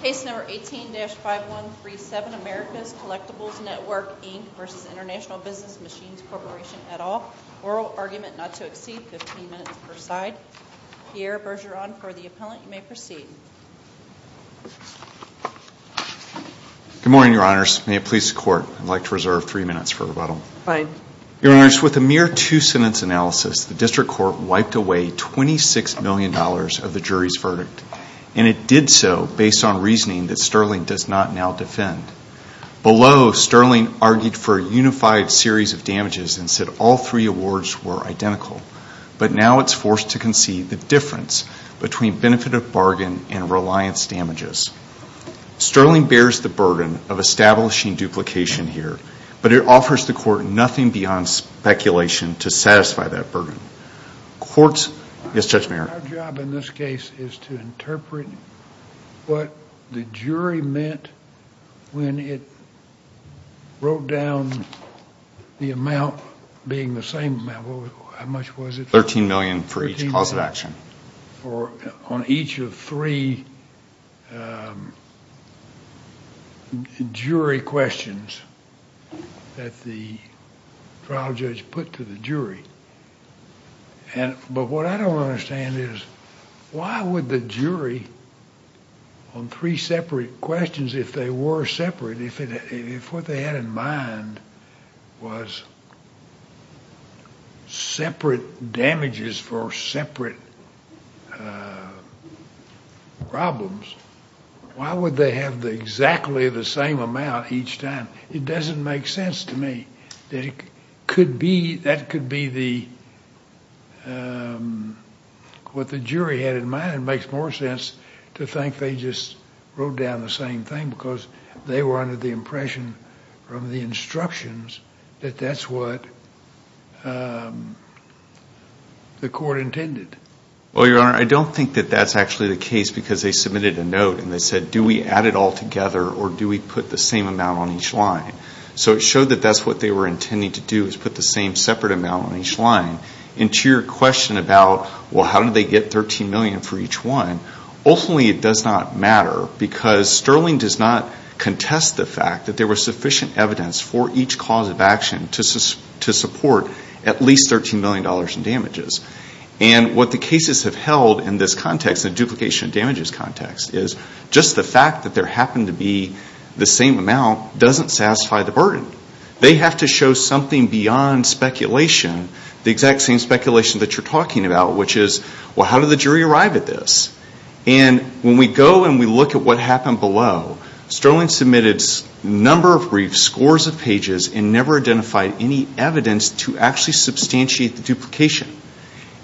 Case number 18-5137, America's Collectibles Network, Inc. v. International Business Machines Corporation, et al. Oral argument not to exceed 15 minutes per side. Pierre Bergeron for the appellant. You may proceed. Good morning, Your Honors. May it please the Court, I'd like to reserve three minutes for rebuttal. Fine. Your Honors, with a mere two-sentence analysis, the District Court wiped away $26 million of the jury's verdict. And it did so based on reasoning that Sterling does not now defend. Below, Sterling argued for a unified series of damages and said all three awards were identical. But now it's forced to concede the difference between benefit of bargain and reliance damages. Sterling bears the burden of establishing duplication here. But it offers the Court nothing beyond speculation to satisfy that burden. Our job in this case is to interpret what the jury meant when it wrote down the amount being the same amount. How much was it? $13 million for each cause of action. On each of three jury questions that the trial judge put to the jury. But what I don't understand is why would the jury on three separate questions, if they were separate, if what they had in mind was separate damages for separate problems, why would they have exactly the same amount each time? It doesn't make sense to me. That could be what the jury had in mind. And it makes more sense to think they just wrote down the same thing because they were under the impression from the instructions that that's what the Court intended. Well, Your Honor, I don't think that that's actually the case because they submitted a note and they said, do we add it all together or do we put the same amount on each line? So it showed that that's what they were intending to do is put the same separate amount on each line. And to your question about, well, how did they get $13 million for each one, ultimately it does not matter because Sterling does not contest the fact that there was sufficient evidence for each cause of action to support at least $13 million in damages. And what the cases have held in this context, the duplication of damages context, is just the fact that there happened to be the same amount doesn't satisfy the burden. They have to show something beyond speculation, the exact same speculation that you're talking about, which is, well, how did the jury arrive at this? And when we go and we look at what happened below, Sterling submitted a number of briefs, scores of pages, and never identified any evidence to actually substantiate the duplication.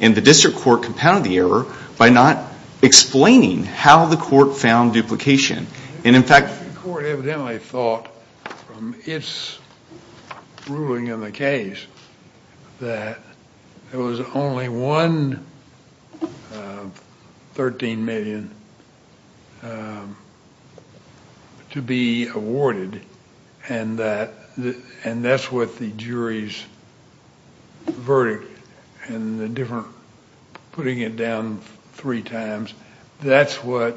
And the District Court compounded the error by not explaining how the Court found duplication. The Court evidently thought from its ruling in the case that there was only one $13 million to be awarded, and that's what the jury's verdict and the different putting it down three times, that's what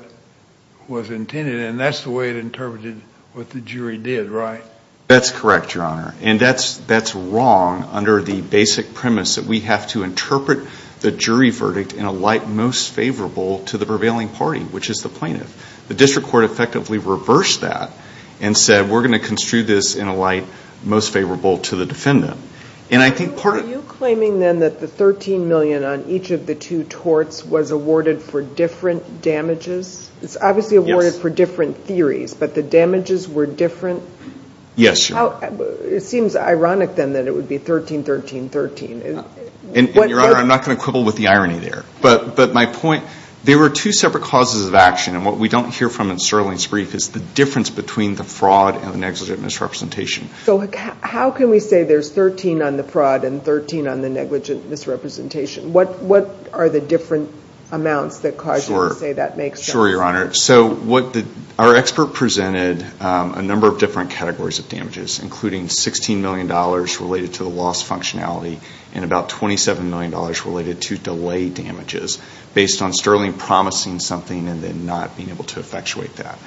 was intended and that's the way it interpreted what the jury did, right? That's correct, Your Honor. And that's wrong under the basic premise that we have to interpret the jury verdict in a light most favorable to the prevailing party, which is the plaintiff. The District Court effectively reversed that and said, we're going to construe this in a light most favorable to the defendant. Are you claiming then that the $13 million on each of the two torts was awarded for different damages? It's obviously awarded for different theories, but the damages were different? Yes, Your Honor. It seems ironic then that it would be 13-13-13. And, Your Honor, I'm not going to quibble with the irony there. But my point, there were two separate causes of action, and what we don't hear from in Sterling's brief is the difference between the fraud and the negligent misrepresentation. So how can we say there's 13 on the fraud and 13 on the negligent misrepresentation? What are the different amounts that cause you to say that makes sense? Sure, Your Honor. So our expert presented a number of different categories of damages, including $16 million related to the loss functionality and about $27 million related to delay damages, based on Sterling promising something and then not being able to effectuate that.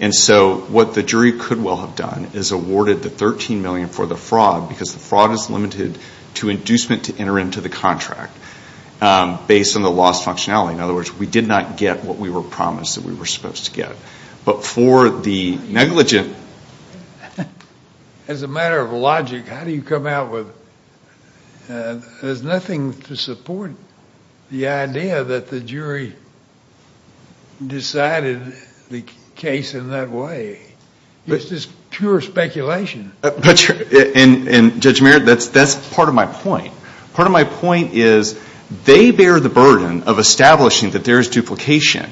And so what the jury could well have done is awarded the $13 million for the fraud because the fraud is limited to inducement to enter into the contract based on the lost functionality. In other words, we did not get what we were promised that we were supposed to get. But for the negligent, as a matter of logic, how do you come out with it? There's nothing to support the idea that the jury decided the case in that way. It's just pure speculation. And, Judge Merritt, that's part of my point. Part of my point is they bear the burden of establishing that there is duplication,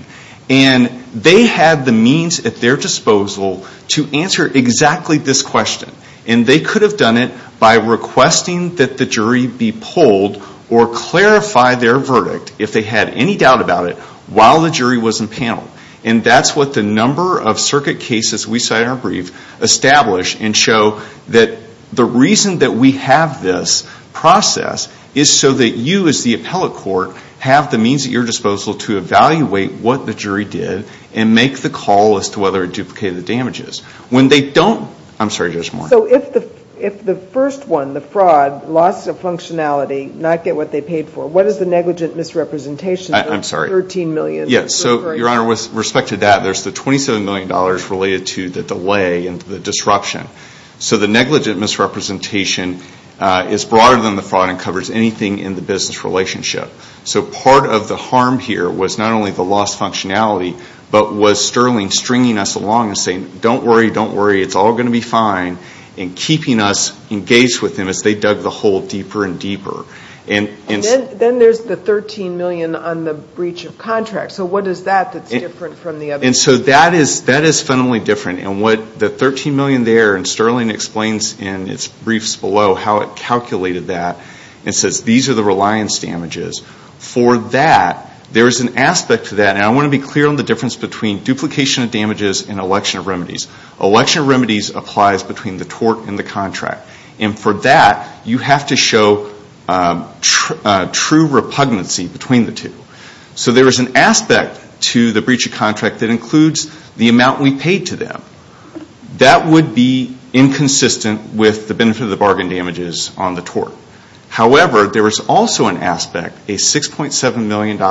and they had the means at their disposal to answer exactly this question, and they could have done it by requesting that the jury be polled or clarify their verdict, if they had any doubt about it, while the jury was in panel. And that's what the number of circuit cases we cite in our brief establish and show that the reason that we have this process is so that you, as the appellate court, have the means at your disposal to evaluate what the jury did and make the call as to whether it duplicated the damages. When they don't, I'm sorry, Judge Moore. So if the first one, the fraud, loss of functionality, not get what they paid for, what is the negligent misrepresentation? I'm sorry. $13 million. Yes, so, Your Honor, with respect to that, there's the $27 million related to the delay and the disruption. So the negligent misrepresentation is broader than the fraud and covers anything in the business relationship. So part of the harm here was not only the lost functionality, but was Sterling stringing us along and saying, don't worry, don't worry, it's all going to be fine, and keeping us engaged with them as they dug the hole deeper and deeper. And then there's the $13 million on the breach of contract. So what is that that's different from the other? And so that is fundamentally different. And what the $13 million there, and Sterling explains in its briefs below how it calculated that, and says these are the reliance damages. For that, there is an aspect to that. Now, I want to be clear on the difference between duplication of damages and election of remedies. Election of remedies applies between the tort and the contract. And for that, you have to show true repugnancy between the two. So there is an aspect to the breach of contract that includes the amount we paid to them. That would be inconsistent with the benefit of the bargain damages on the tort. However, there is also an aspect, a $6.7 million,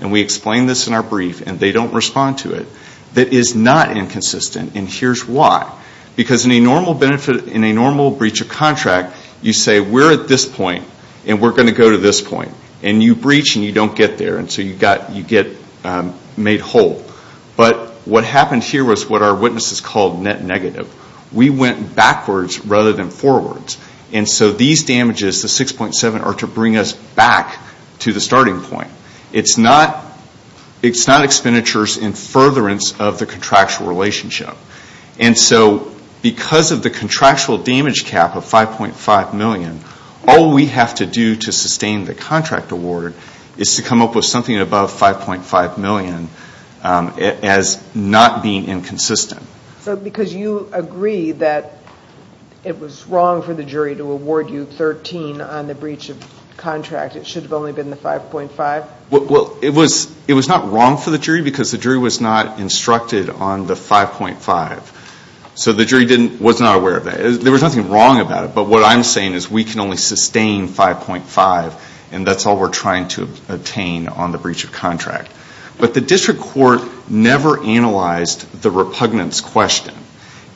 and we explain this in our brief and they don't respond to it, that is not inconsistent. And here's why. Because in a normal breach of contract, you say we're at this point and we're going to go to this point. And you breach and you don't get there. And so you get made whole. But what happened here was what our witnesses called net negative. We went backwards rather than forwards. And so these damages, the $6.7 million, are to bring us back to the starting point. It's not expenditures in furtherance of the contractual relationship. And so because of the contractual damage cap of $5.5 million, all we have to do to sustain the contract award is to come up with something above $5.5 million as not being inconsistent. So because you agree that it was wrong for the jury to award you $13 on the breach of contract, it should have only been the $5.5? Well, it was not wrong for the jury because the jury was not instructed on the $5.5. So the jury was not aware of that. There was nothing wrong about it, but what I'm saying is we can only sustain $5.5 and that's all we're trying to obtain on the breach of contract. But the district court never analyzed the repugnance question.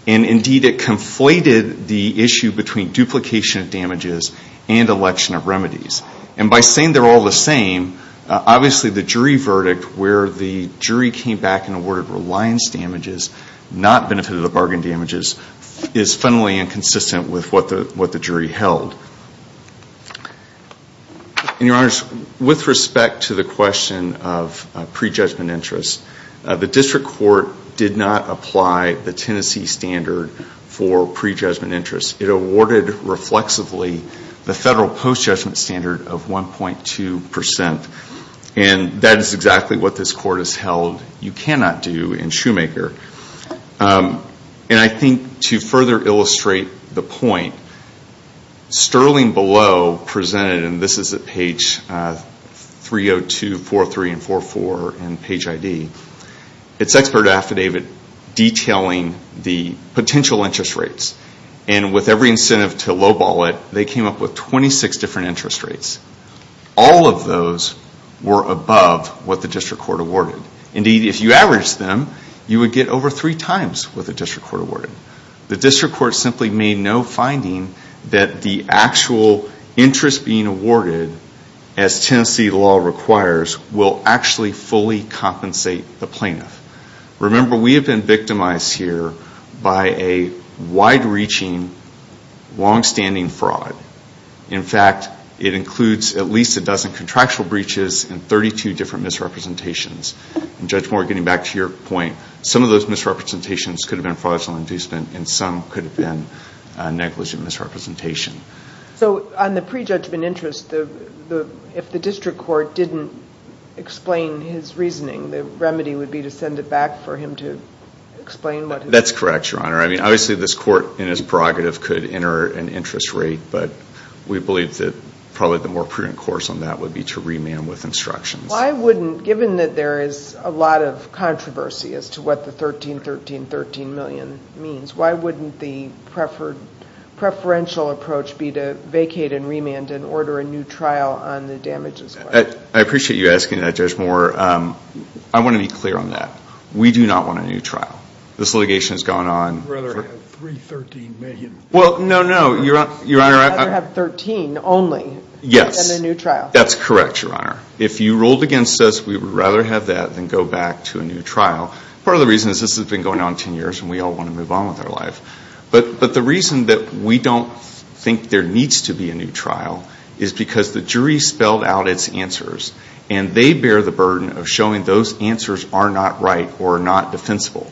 And indeed, it conflated the issue between duplication of damages and election of remedies. And by saying they're all the same, obviously the jury verdict, where the jury came back and awarded reliance damages, not benefit of the bargain damages, is fundamentally inconsistent with what the jury held. And, Your Honors, with respect to the question of prejudgment interest, the district court did not apply the Tennessee standard for prejudgment interest. It awarded reflexively the federal post-judgment standard of 1.2%. And that is exactly what this court has held you cannot do in Shoemaker. And I think to further illustrate the point, Sterling Below presented, and this is at page 302, 403, and 404 in page ID, its expert affidavit detailing the potential interest rates. And with every incentive to lowball it, they came up with 26 different interest rates. All of those were above what the district court awarded. Indeed, if you averaged them, you would get over three times what the district court awarded. The district court simply made no finding that the actual interest being awarded, as Tennessee law requires, will actually fully compensate the plaintiff. Remember, we have been victimized here by a wide-reaching, longstanding fraud. In fact, it includes at least a dozen contractual breaches and 32 different misrepresentations. And Judge Moore, getting back to your point, some of those misrepresentations could have been fraudulent inducement, and some could have been negligent misrepresentation. So on the prejudgment interest, if the district court didn't explain his reasoning, the remedy would be to send it back for him to explain? That's correct, Your Honor. I mean, obviously this court in its prerogative could enter an interest rate, but we believe that probably the more prudent course on that would be to remand with instructions. Why wouldn't, given that there is a lot of controversy as to what the 13, 13, 13 million means, why wouldn't the preferential approach be to vacate and remand and order a new trial on the damages? I appreciate you asking that, Judge Moore. I want to be clear on that. We do not want a new trial. This litigation has gone on. We'd rather have three 13 million. Well, no, no, Your Honor. We'd rather have 13 only than a new trial. Yes, that's correct, Your Honor. If you ruled against us, we would rather have that than go back to a new trial. Part of the reason is this has been going on 10 years, and we all want to move on with our life. But the reason that we don't think there needs to be a new trial is because the jury spelled out its answers, and they bear the burden of showing those answers are not right or not defensible.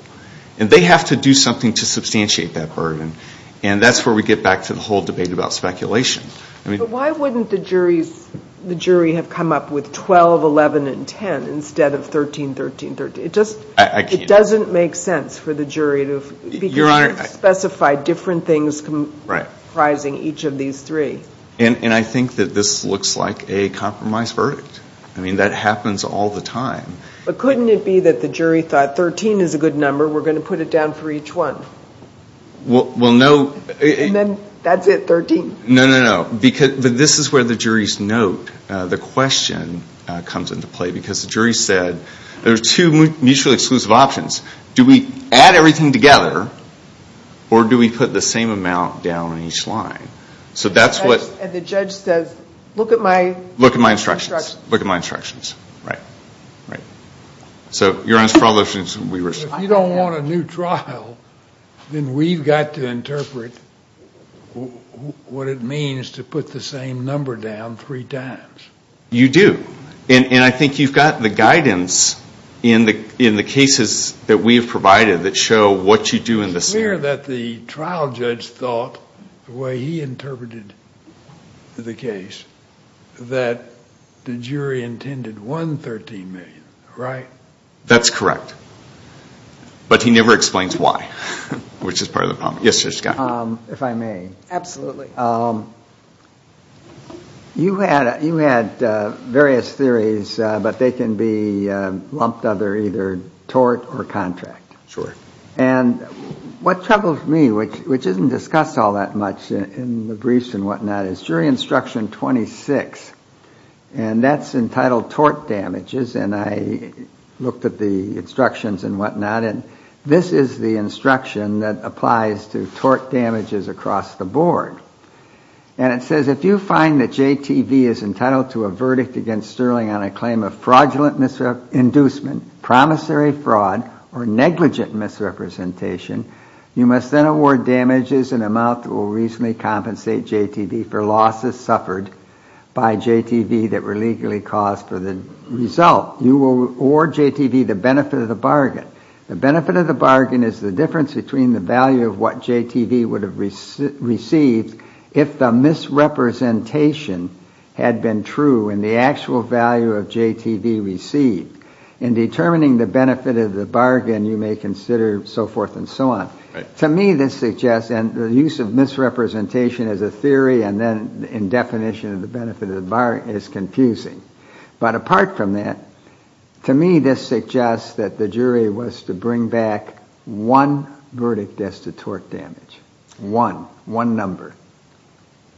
And they have to do something to substantiate that burden. And that's where we get back to the whole debate about speculation. But why wouldn't the jury have come up with 12, 11, and 10 instead of 13, 13, 13? It doesn't make sense for the jury to begin to specify different things comprising each of these three. And I think that this looks like a compromise verdict. I mean, that happens all the time. But couldn't it be that the jury thought 13 is a good number, we're going to put it down for each one? Well, no. And then that's it, 13. No, no, no. But this is where the jury's note, the question, comes into play. Because the jury said there are two mutually exclusive options. Do we add everything together, or do we put the same amount down on each line? And the judge says, look at my instructions. Look at my instructions. Right. Right. So, Your Honor, for all those reasons, we were saying. If you don't want a new trial, then we've got to interpret what it means to put the same number down three times. You do. And I think you've got the guidance in the cases that we have provided that show what you do in the standard. I'm aware that the trial judge thought, the way he interpreted the case, that the jury intended one 13 million, right? That's correct. But he never explains why, which is part of the problem. Yes, Judge Scott. If I may. Absolutely. You had various theories, but they can be lumped under either tort or contract. Sure. And what troubles me, which isn't discussed all that much in the briefs and whatnot, is jury instruction 26. And that's entitled tort damages. And I looked at the instructions and whatnot. And this is the instruction that applies to tort damages across the board. And it says, if you find that JTV is entitled to a verdict against Sterling on a claim of fraudulent misrepresentation, inducement, promissory fraud, or negligent misrepresentation, you must then award damages in amount that will reasonably compensate JTV for losses suffered by JTV that were legally caused for the result. You will award JTV the benefit of the bargain. The benefit of the bargain is the difference between the value of what JTV would have received if the misrepresentation had been true and the actual value of JTV received. In determining the benefit of the bargain, you may consider so forth and so on. To me, this suggests, and the use of misrepresentation as a theory and then in definition of the benefit of the bargain is confusing. But apart from that, to me, this suggests that the jury was to bring back one verdict as to tort damage. One. One number.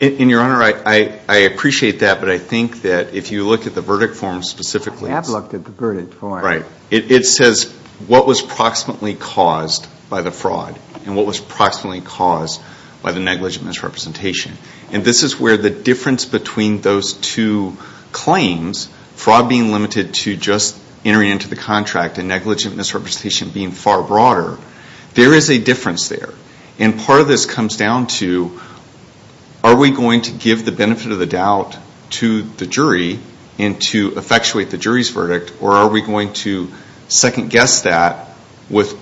And, Your Honor, I appreciate that, but I think that if you look at the verdict form specifically. I have looked at the verdict form. Right. It says what was proximately caused by the fraud and what was proximately caused by the negligent misrepresentation. And this is where the difference between those two claims, fraud being limited to just entering into the contract and negligent misrepresentation being far broader, there is a difference there. And part of this comes down to are we going to give the benefit of the doubt to the jury and to effectuate the jury's verdict or are we going to second guess that with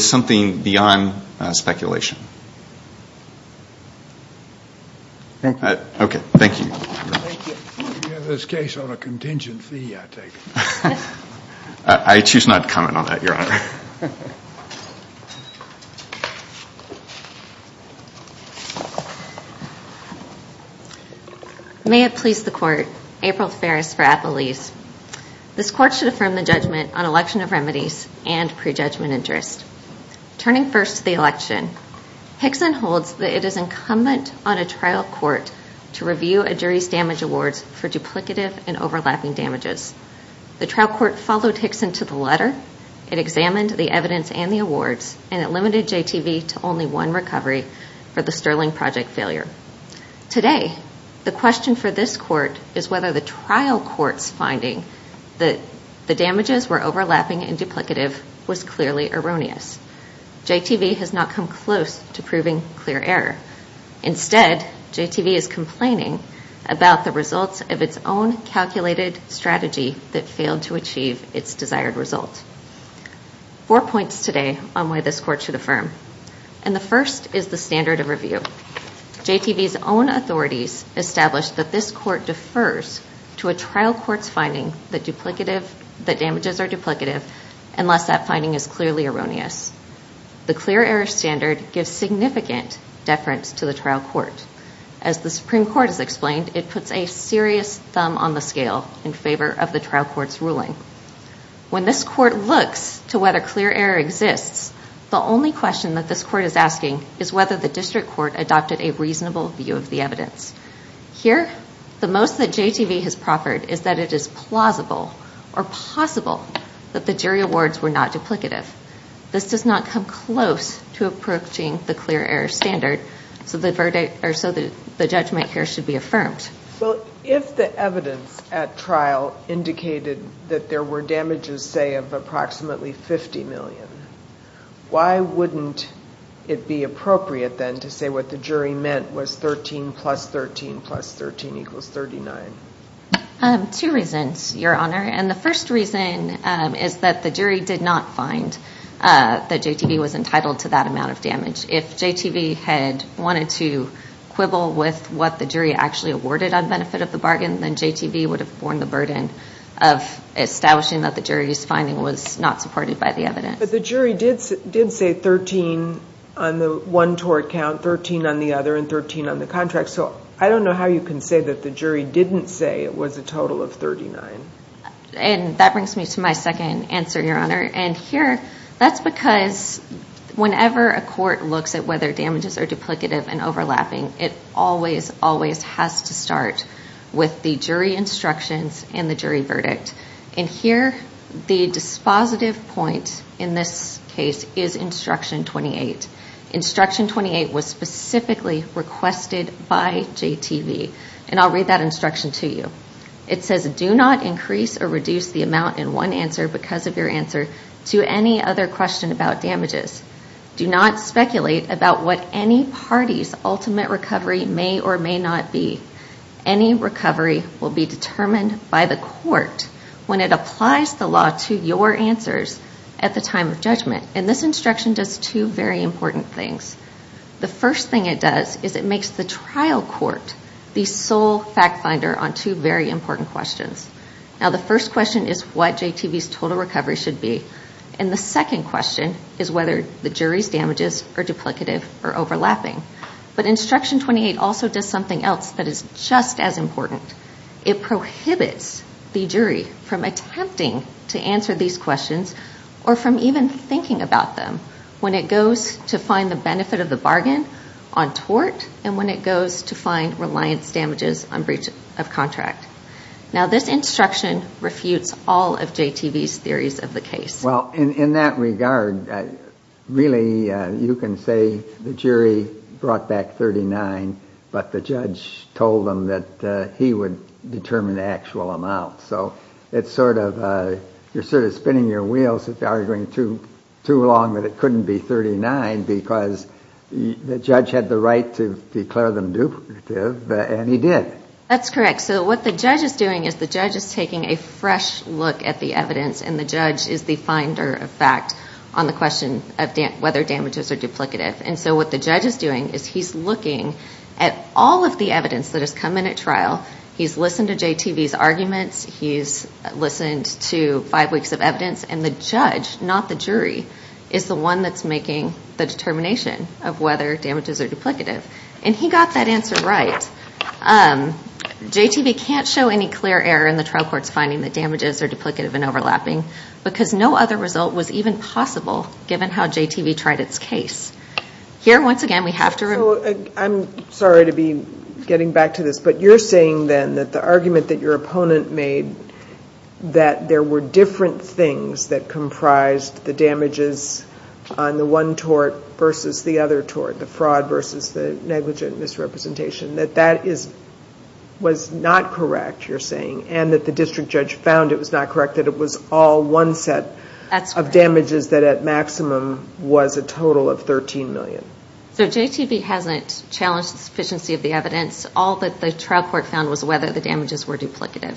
something beyond speculation? Thank you. Okay. Thank you. If you have this case on a contingent fee, I take it. I choose not to comment on that, Your Honor. Thank you. May it please the Court. April Ferris for Appalese. This Court should affirm the judgment on election of remedies and prejudgment interest. Turning first to the election, Hickson holds that it is incumbent on a trial court to review a jury's damage awards for duplicative and overlapping damages. The trial court followed Hickson to the letter. It examined the evidence and the awards and it limited JTV to only one recovery for the Sterling Project failure. Today, the question for this court is whether the trial court's finding that the damages were overlapping and duplicative was clearly erroneous. JTV has not come close to proving clear error. Instead, JTV is complaining about the results of its own calculated strategy that failed to achieve its desired result. Four points today on why this court should affirm. And the first is the standard of review. JTV's own authorities established that this court defers to a trial court's finding that damages are duplicative unless that finding is clearly erroneous. The clear error standard gives significant deference to the trial court. As the Supreme Court has explained, it puts a serious thumb on the scale in favor of the trial court's ruling. When this court looks to whether clear error exists, the only question that this court is asking is whether the district court adopted a reasonable view of the evidence. Here, the most that JTV has proffered is that it is plausible or possible that the jury awards were not duplicative. This does not come close to approaching the clear error standard, so the judgment here should be affirmed. Well, if the evidence at trial indicated that there were damages, say, of approximately 50 million, why wouldn't it be appropriate, then, to say what the jury meant was 13 plus 13 plus 13 equals 39? Two reasons, Your Honor. And the first reason is that the jury did not find that JTV was entitled to that amount of damage. If JTV had wanted to quibble with what the jury actually awarded on benefit of the bargain, then JTV would have borne the burden of establishing that the jury's finding was not supported by the evidence. But the jury did say 13 on the one tort count, 13 on the other, and 13 on the contract. So I don't know how you can say that the jury didn't say it was a total of 39. And that brings me to my second answer, Your Honor. And here, that's because whenever a court looks at whether damages are duplicative and overlapping, it always, always has to start with the jury instructions and the jury verdict. And here, the dispositive point in this case is Instruction 28. Instruction 28 was specifically requested by JTV. And I'll read that instruction to you. It says, Do not increase or reduce the amount in one answer because of your answer to any other question about damages. Do not speculate about what any party's ultimate recovery may or may not be. Any recovery will be determined by the court when it applies the law to your answers at the time of judgment. And this instruction does two very important things. The first thing it does is it makes the trial court the sole fact finder on two very important questions. Now, the first question is what JTV's total recovery should be. And the second question is whether the jury's damages are duplicative or overlapping. But Instruction 28 also does something else that is just as important. It prohibits the jury from attempting to answer these questions or from even thinking about them when it goes to find the benefit of the bargain on tort and when it goes to find reliance damages on breach of contract. Now, this instruction refutes all of JTV's theories of the case. Well, in that regard, really, you can say the jury brought back 39, but the judge told them that he would determine the actual amount. So it's sort of you're sort of spinning your wheels, arguing too long that it couldn't be 39 because the judge had the right to declare them duplicative, and he did. That's correct. So what the judge is doing is the judge is taking a fresh look at the evidence, and the judge is the finder of fact on the question of whether damages are duplicative. And so what the judge is doing is he's looking at all of the evidence that has come in at trial. He's listened to JTV's arguments. He's listened to five weeks of evidence. And the judge, not the jury, is the one that's making the determination of whether damages are duplicative. And he got that answer right. JTV can't show any clear error in the trial court's finding that damages are duplicative and overlapping because no other result was even possible given how JTV tried its case. Here, once again, we have to remember. So I'm sorry to be getting back to this, but you're saying then that the argument that your opponent made that there were different things that comprised the damages on the one tort versus the other tort, the fraud versus the negligent misrepresentation, that that was not correct, you're saying, and that the district judge found it was not correct, that it was all one set of damages that at maximum was a total of $13 million? So JTV hasn't challenged the sufficiency of the evidence. All that the trial court found was whether the damages were duplicative.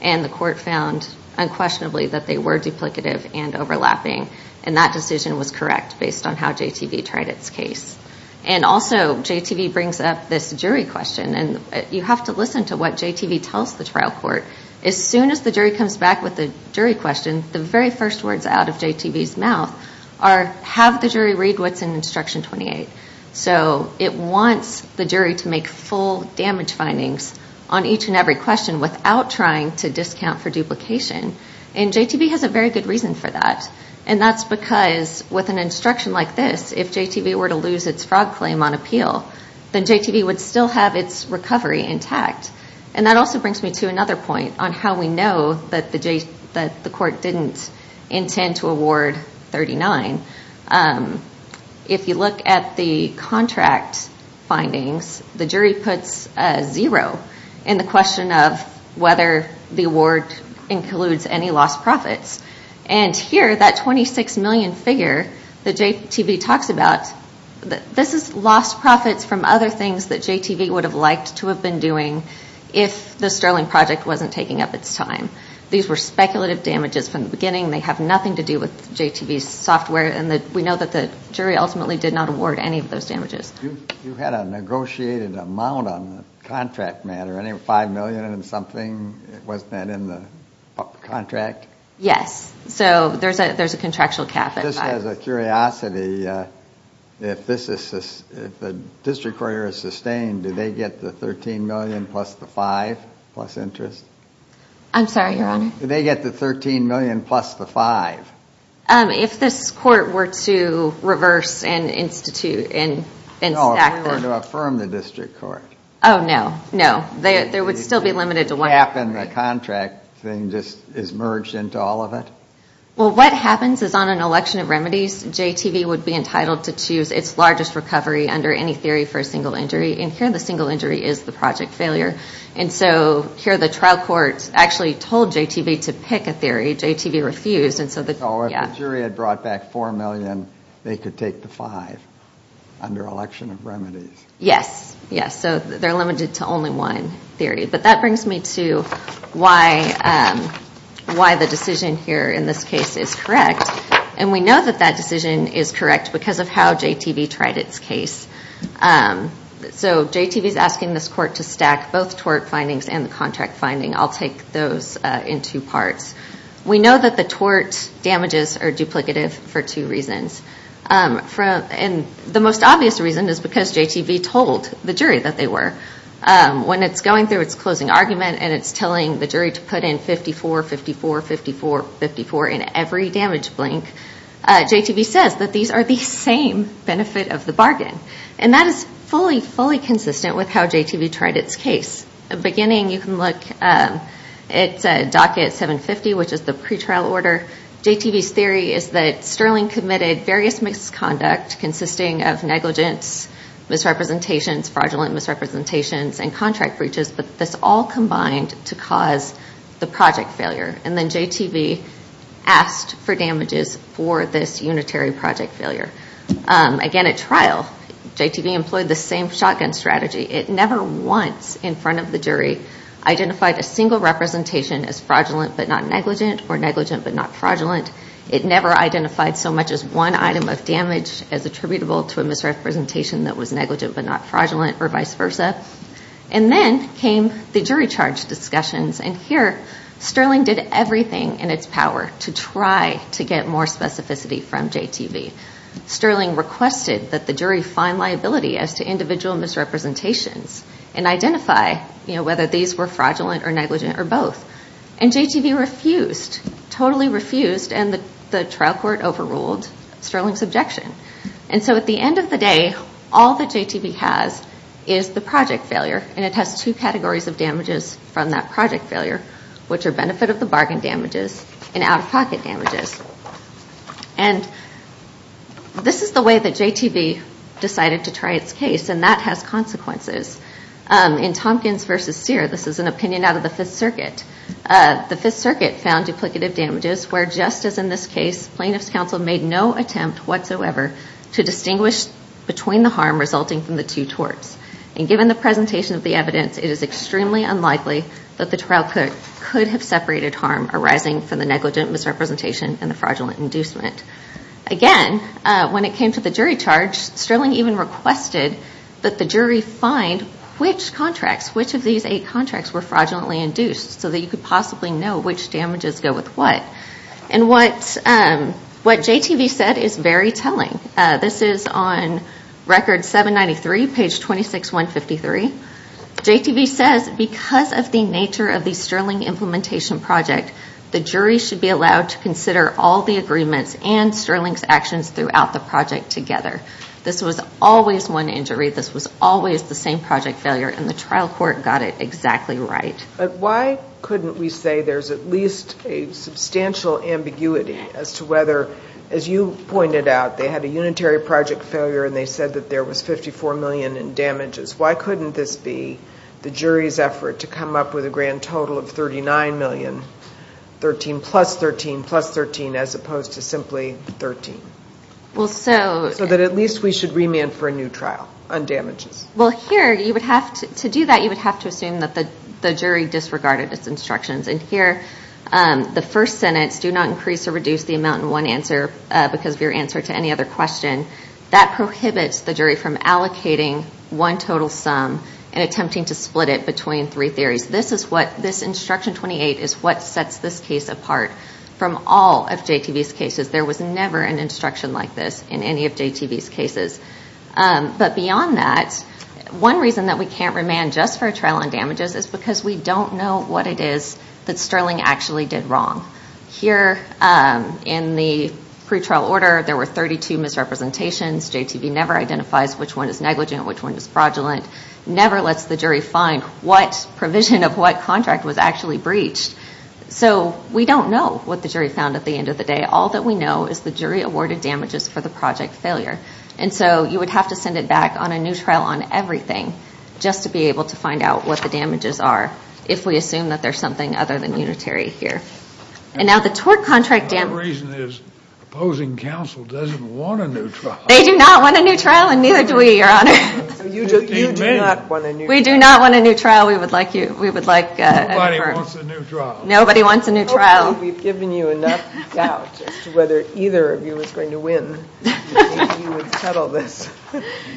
And the court found unquestionably that they were duplicative and overlapping. And that decision was correct based on how JTV tried its case. And also JTV brings up this jury question. And you have to listen to what JTV tells the trial court. As soon as the jury comes back with a jury question, the very first words out of JTV's mouth are, have the jury read what's in Instruction 28. So it wants the jury to make full damage findings on each and every question without trying to discount for duplication. And JTV has a very good reason for that. And that's because with an instruction like this, if JTV were to lose its fraud claim on appeal, then JTV would still have its recovery intact. And that also brings me to another point on how we know that the court didn't intend to award 39. If you look at the contract findings, the jury puts a zero in the question of whether the award includes any lost profits. And here, that 26 million figure that JTV talks about, this is lost profits from other things that JTV would have liked to have been doing if the Sterling Project wasn't taking up its time. These were speculative damages from the beginning. They have nothing to do with JTV's software. And we know that the jury ultimately did not award any of those damages. You had a negotiated amount on the contract matter, 5 million and something. Wasn't that in the contract? Yes. So there's a contractual cap. Just as a curiosity, if the district court is sustained, do they get the 13 million plus the 5 plus interest? I'm sorry, Your Honor. Do they get the 13 million plus the 5? If this court were to reverse and institute and stack them. No, if they were to affirm the district court. Oh, no. No. There would still be limited to one. The cap in the contract thing just is merged into all of it. Well, what happens is on an election of remedies, JTV would be entitled to choose its largest recovery under any theory for a single injury. And here, the single injury is the project failure. And so here, the trial court actually told JTV to pick a theory. JTV refused. So if the jury had brought back 4 million, they could take the 5 under election of remedies. Yes. Yes. So they're limited to only one theory. But that brings me to why the decision here in this case is correct. And we know that that decision is correct because of how JTV tried its case. So JTV is asking this court to stack both tort findings and the contract finding. I'll take those in two parts. We know that the tort damages are duplicative for two reasons. And the most obvious reason is because JTV told the jury that they were. When it's going through its closing argument and it's telling the jury to put in 54, 54, 54, 54 in every damage blink, JTV says that these are the same benefit of the bargain. And that is fully, fully consistent with how JTV tried its case. At the beginning, you can look at docket 750, which is the pretrial order. JTV's theory is that Sterling committed various misconduct consisting of negligence, misrepresentations, fraudulent misrepresentations, and contract breaches, but this all combined to cause the project failure. And then JTV asked for damages for this unitary project failure. Again, at trial, JTV employed the same shotgun strategy. It never once in front of the jury identified a single representation as fraudulent but not negligent or negligent but not fraudulent. It never identified so much as one item of damage as attributable to a misrepresentation that was negligent but not fraudulent or vice versa. And then came the jury charge discussions, and here Sterling did everything in its power to try to get more specificity from JTV. Sterling requested that the jury find liability as to individual misrepresentations and identify whether these were fraudulent or negligent or both. And JTV refused, totally refused, and the trial court overruled Sterling's objection. And so at the end of the day, all that JTV has is the project failure, and it has two categories of damages from that project failure, which are benefit of the bargain damages and out-of-pocket damages. And this is the way that JTV decided to try its case, and that has consequences. In Tompkins v. Sear, this is an opinion out of the Fifth Circuit, the Fifth Circuit found duplicative damages where, just as in this case, plaintiff's counsel made no attempt whatsoever to distinguish between the harm resulting from the two torts. And given the presentation of the evidence, it is extremely unlikely that the trial court could have separated harm arising from the negligent misrepresentation and the fraudulent inducement. Again, when it came to the jury charge, Sterling even requested that the jury find which contracts, which of these eight contracts were fraudulently induced, so that you could possibly know which damages go with what. And what JTV said is very telling. This is on Record 793, page 26153. JTV says, because of the nature of the Sterling implementation project, the jury should be allowed to consider all the agreements and Sterling's actions throughout the project together. This was always one injury. This was always the same project failure, and the trial court got it exactly right. But why couldn't we say there's at least a substantial ambiguity as to whether, as you pointed out, they had a unitary project failure, and they said that there was $54 million in damages. Why couldn't this be the jury's effort to come up with a grand total of $39 million, 13 plus 13 plus 13, as opposed to simply 13? So that at least we should remand for a new trial on damages. Well, here, to do that, you would have to assume that the jury disregarded its instructions. And here, the first sentence, do not increase or reduce the amount in one answer, because of your answer to any other question, that prohibits the jury from allocating one total sum and attempting to split it between three theories. This instruction 28 is what sets this case apart from all of JTV's cases. There was never an instruction like this in any of JTV's cases. But beyond that, one reason that we can't remand just for a trial on damages is because we don't know what it is that Sterling actually did wrong. Here in the pretrial order, there were 32 misrepresentations. JTV never identifies which one is negligent, which one is fraudulent, never lets the jury find what provision of what contract was actually breached. So we don't know what the jury found at the end of the day. All that we know is the jury awarded damages for the project failure. And so you would have to send it back on a new trial on everything just to be able to find out what the damages are, if we assume that there's something other than unitary here. And now the tort contract damages. The only reason is opposing counsel doesn't want a new trial. They do not want a new trial and neither do we, Your Honor. You do not want a new trial. We do not want a new trial. We would like a deferral. Nobody wants a new trial. Nobody wants a new trial. Hopefully we've given you enough doubt as to whether either of you is going to win and you would settle this.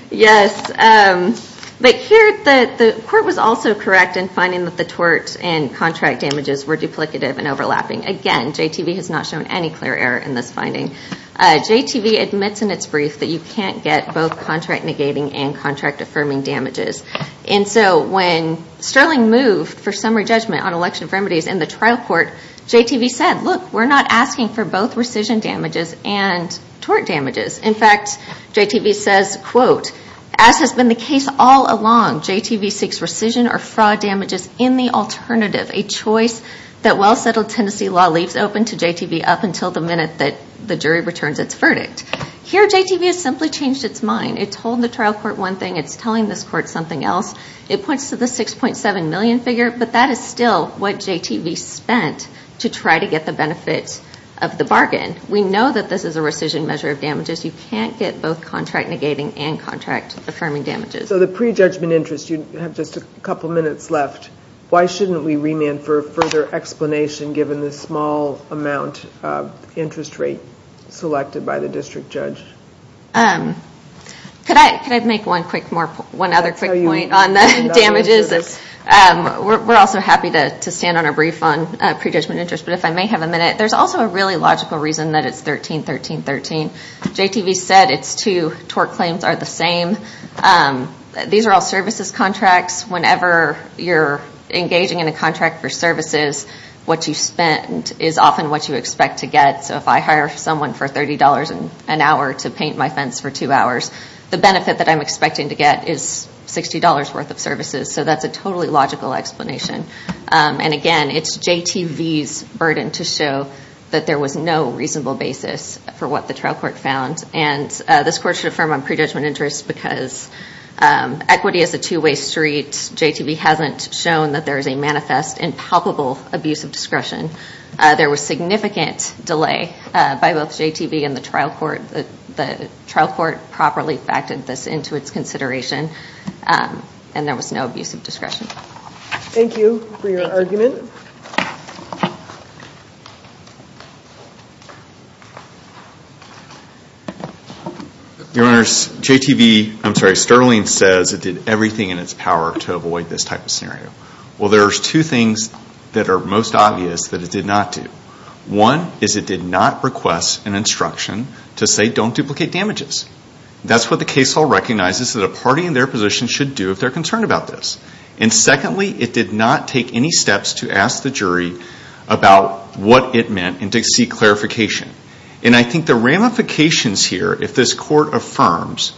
Yes. But here the court was also correct in finding that the tort and contract damages were duplicative and overlapping. Again, JTV has not shown any clear error in this finding. JTV admits in its brief that you can't get both contract negating and contract affirming damages. And so when Sterling moved for summary judgment on election remedies in the trial court, JTV said, look, we're not asking for both rescission damages and tort damages. In fact, JTV says, quote, as has been the case all along, JTV seeks rescission or fraud damages in the alternative, a choice that well-settled Tennessee law leaves open to JTV up until the minute that the jury returns its verdict. Here JTV has simply changed its mind. It told the trial court one thing. It's telling this court something else. It points to the $6.7 million figure, but that is still what JTV spent to try to get the benefits of the bargain. We know that this is a rescission measure of damages. You can't get both contract negating and contract affirming damages. So the prejudgment interest, you have just a couple minutes left. Why shouldn't we remand for a further explanation given the small amount of interest rate selected by the district judge? Could I make one other quick point on the damages? We're also happy to stand on a brief on prejudgment interest, but if I may have a minute. There's also a really logical reason that it's 13-13-13. JTV said its two tort claims are the same. These are all services contracts. Whenever you're engaging in a contract for services, what you spend is often what you expect to get. So if I hire someone for $30 an hour to paint my fence for two hours, the benefit that I'm expecting to get is $60 worth of services. So that's a totally logical explanation. Again, it's JTV's burden to show that there was no reasonable basis for what the trial court found. This court should affirm on prejudgment interest because equity is a two-way street. JTV hasn't shown that there is a manifest and palpable abuse of discretion. There was significant delay by both JTV and the trial court. The trial court properly factored this into its consideration, and there was no abuse of discretion. Thank you for your argument. Your Honors, JTV, I'm sorry, Sterling says it did everything in its power to avoid this type of scenario. Well, there's two things that are most obvious that it did not do. One is it did not request an instruction to say don't duplicate damages. That's what the case hall recognizes that a party in their position should do if they're concerned about this. Secondly, it did not take any steps to ask the jury about what it meant and to seek clarification. I think the ramifications here, if this court affirms,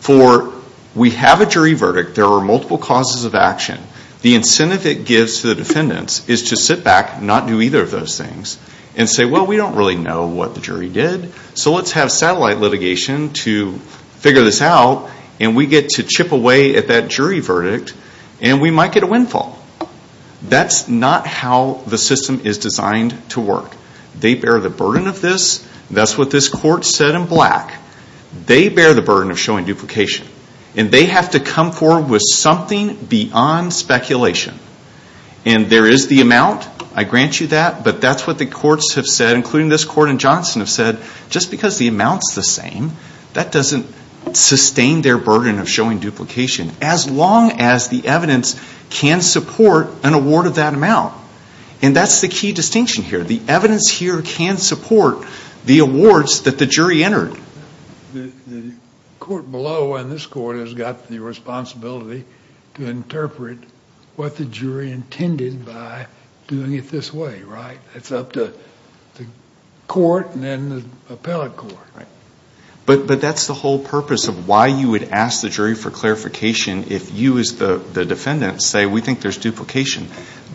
for we have a jury verdict, there are multiple causes of action, the incentive it gives to the defendants is to sit back, not do either of those things, and say, well, we don't really know what the jury did, so let's have satellite litigation to figure this out, and we get to chip away at that jury verdict, and we might get a windfall. That's not how the system is designed to work. They bear the burden of this. That's what this court said in black. They bear the burden of showing duplication, and they have to come forward with something beyond speculation. And there is the amount. I grant you that, but that's what the courts have said, including this court and Johnson have said. Just because the amount's the same, that doesn't sustain their burden of showing duplication, as long as the evidence can support an award of that amount. And that's the key distinction here. The evidence here can support the awards that the jury entered. The court below and this court has got the responsibility to interpret what the jury intended by doing it this way, right? It's up to the court and then the appellate court. But that's the whole purpose of why you would ask the jury for clarification if you as the defendant say, we think there's duplication.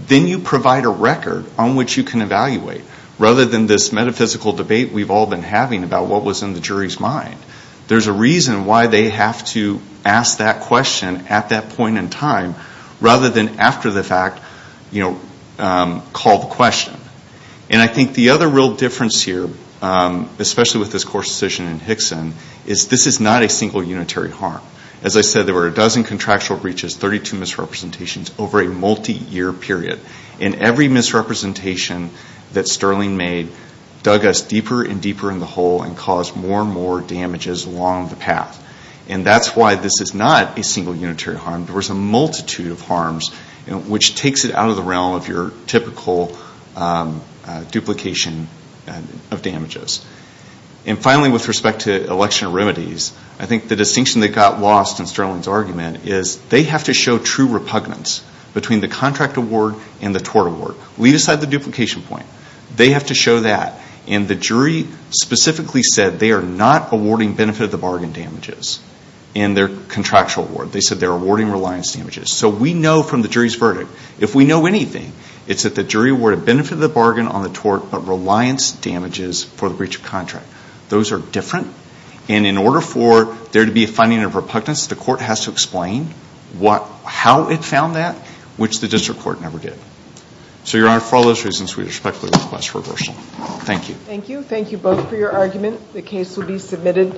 Then you provide a record on which you can evaluate, rather than this metaphysical debate we've all been having about what was in the jury's mind. There's a reason why they have to ask that question at that point in time, rather than after the fact, call the question. And I think the other real difference here, especially with this court's decision in Hickson, is this is not a single unitary harm. As I said, there were a dozen contractual breaches, 32 misrepresentations over a multi-year period. And every misrepresentation that Sterling made dug us deeper and deeper in the hole and caused more and more damages along the path. And that's why this is not a single unitary harm. There was a multitude of harms, which takes it out of the realm of your typical duplication of damages. And finally, with respect to election remedies, I think the distinction that got lost in Sterling's argument is they have to show true repugnance between the contract award and the tort award. Leave aside the duplication point. They have to show that. And the jury specifically said they are not awarding benefit of the bargain damages in their contractual award. They said they're awarding reliance damages. So we know from the jury's verdict, if we know anything, it's that the jury awarded benefit of the bargain on the tort but reliance damages for the breach of contract. Those are different. And in order for there to be a finding of repugnance, the court has to explain how it found that, which the district court never did. So, Your Honor, for all those reasons, we respectfully request reversal. Thank you. Thank you. Thank you both for your argument. The case will be submitted.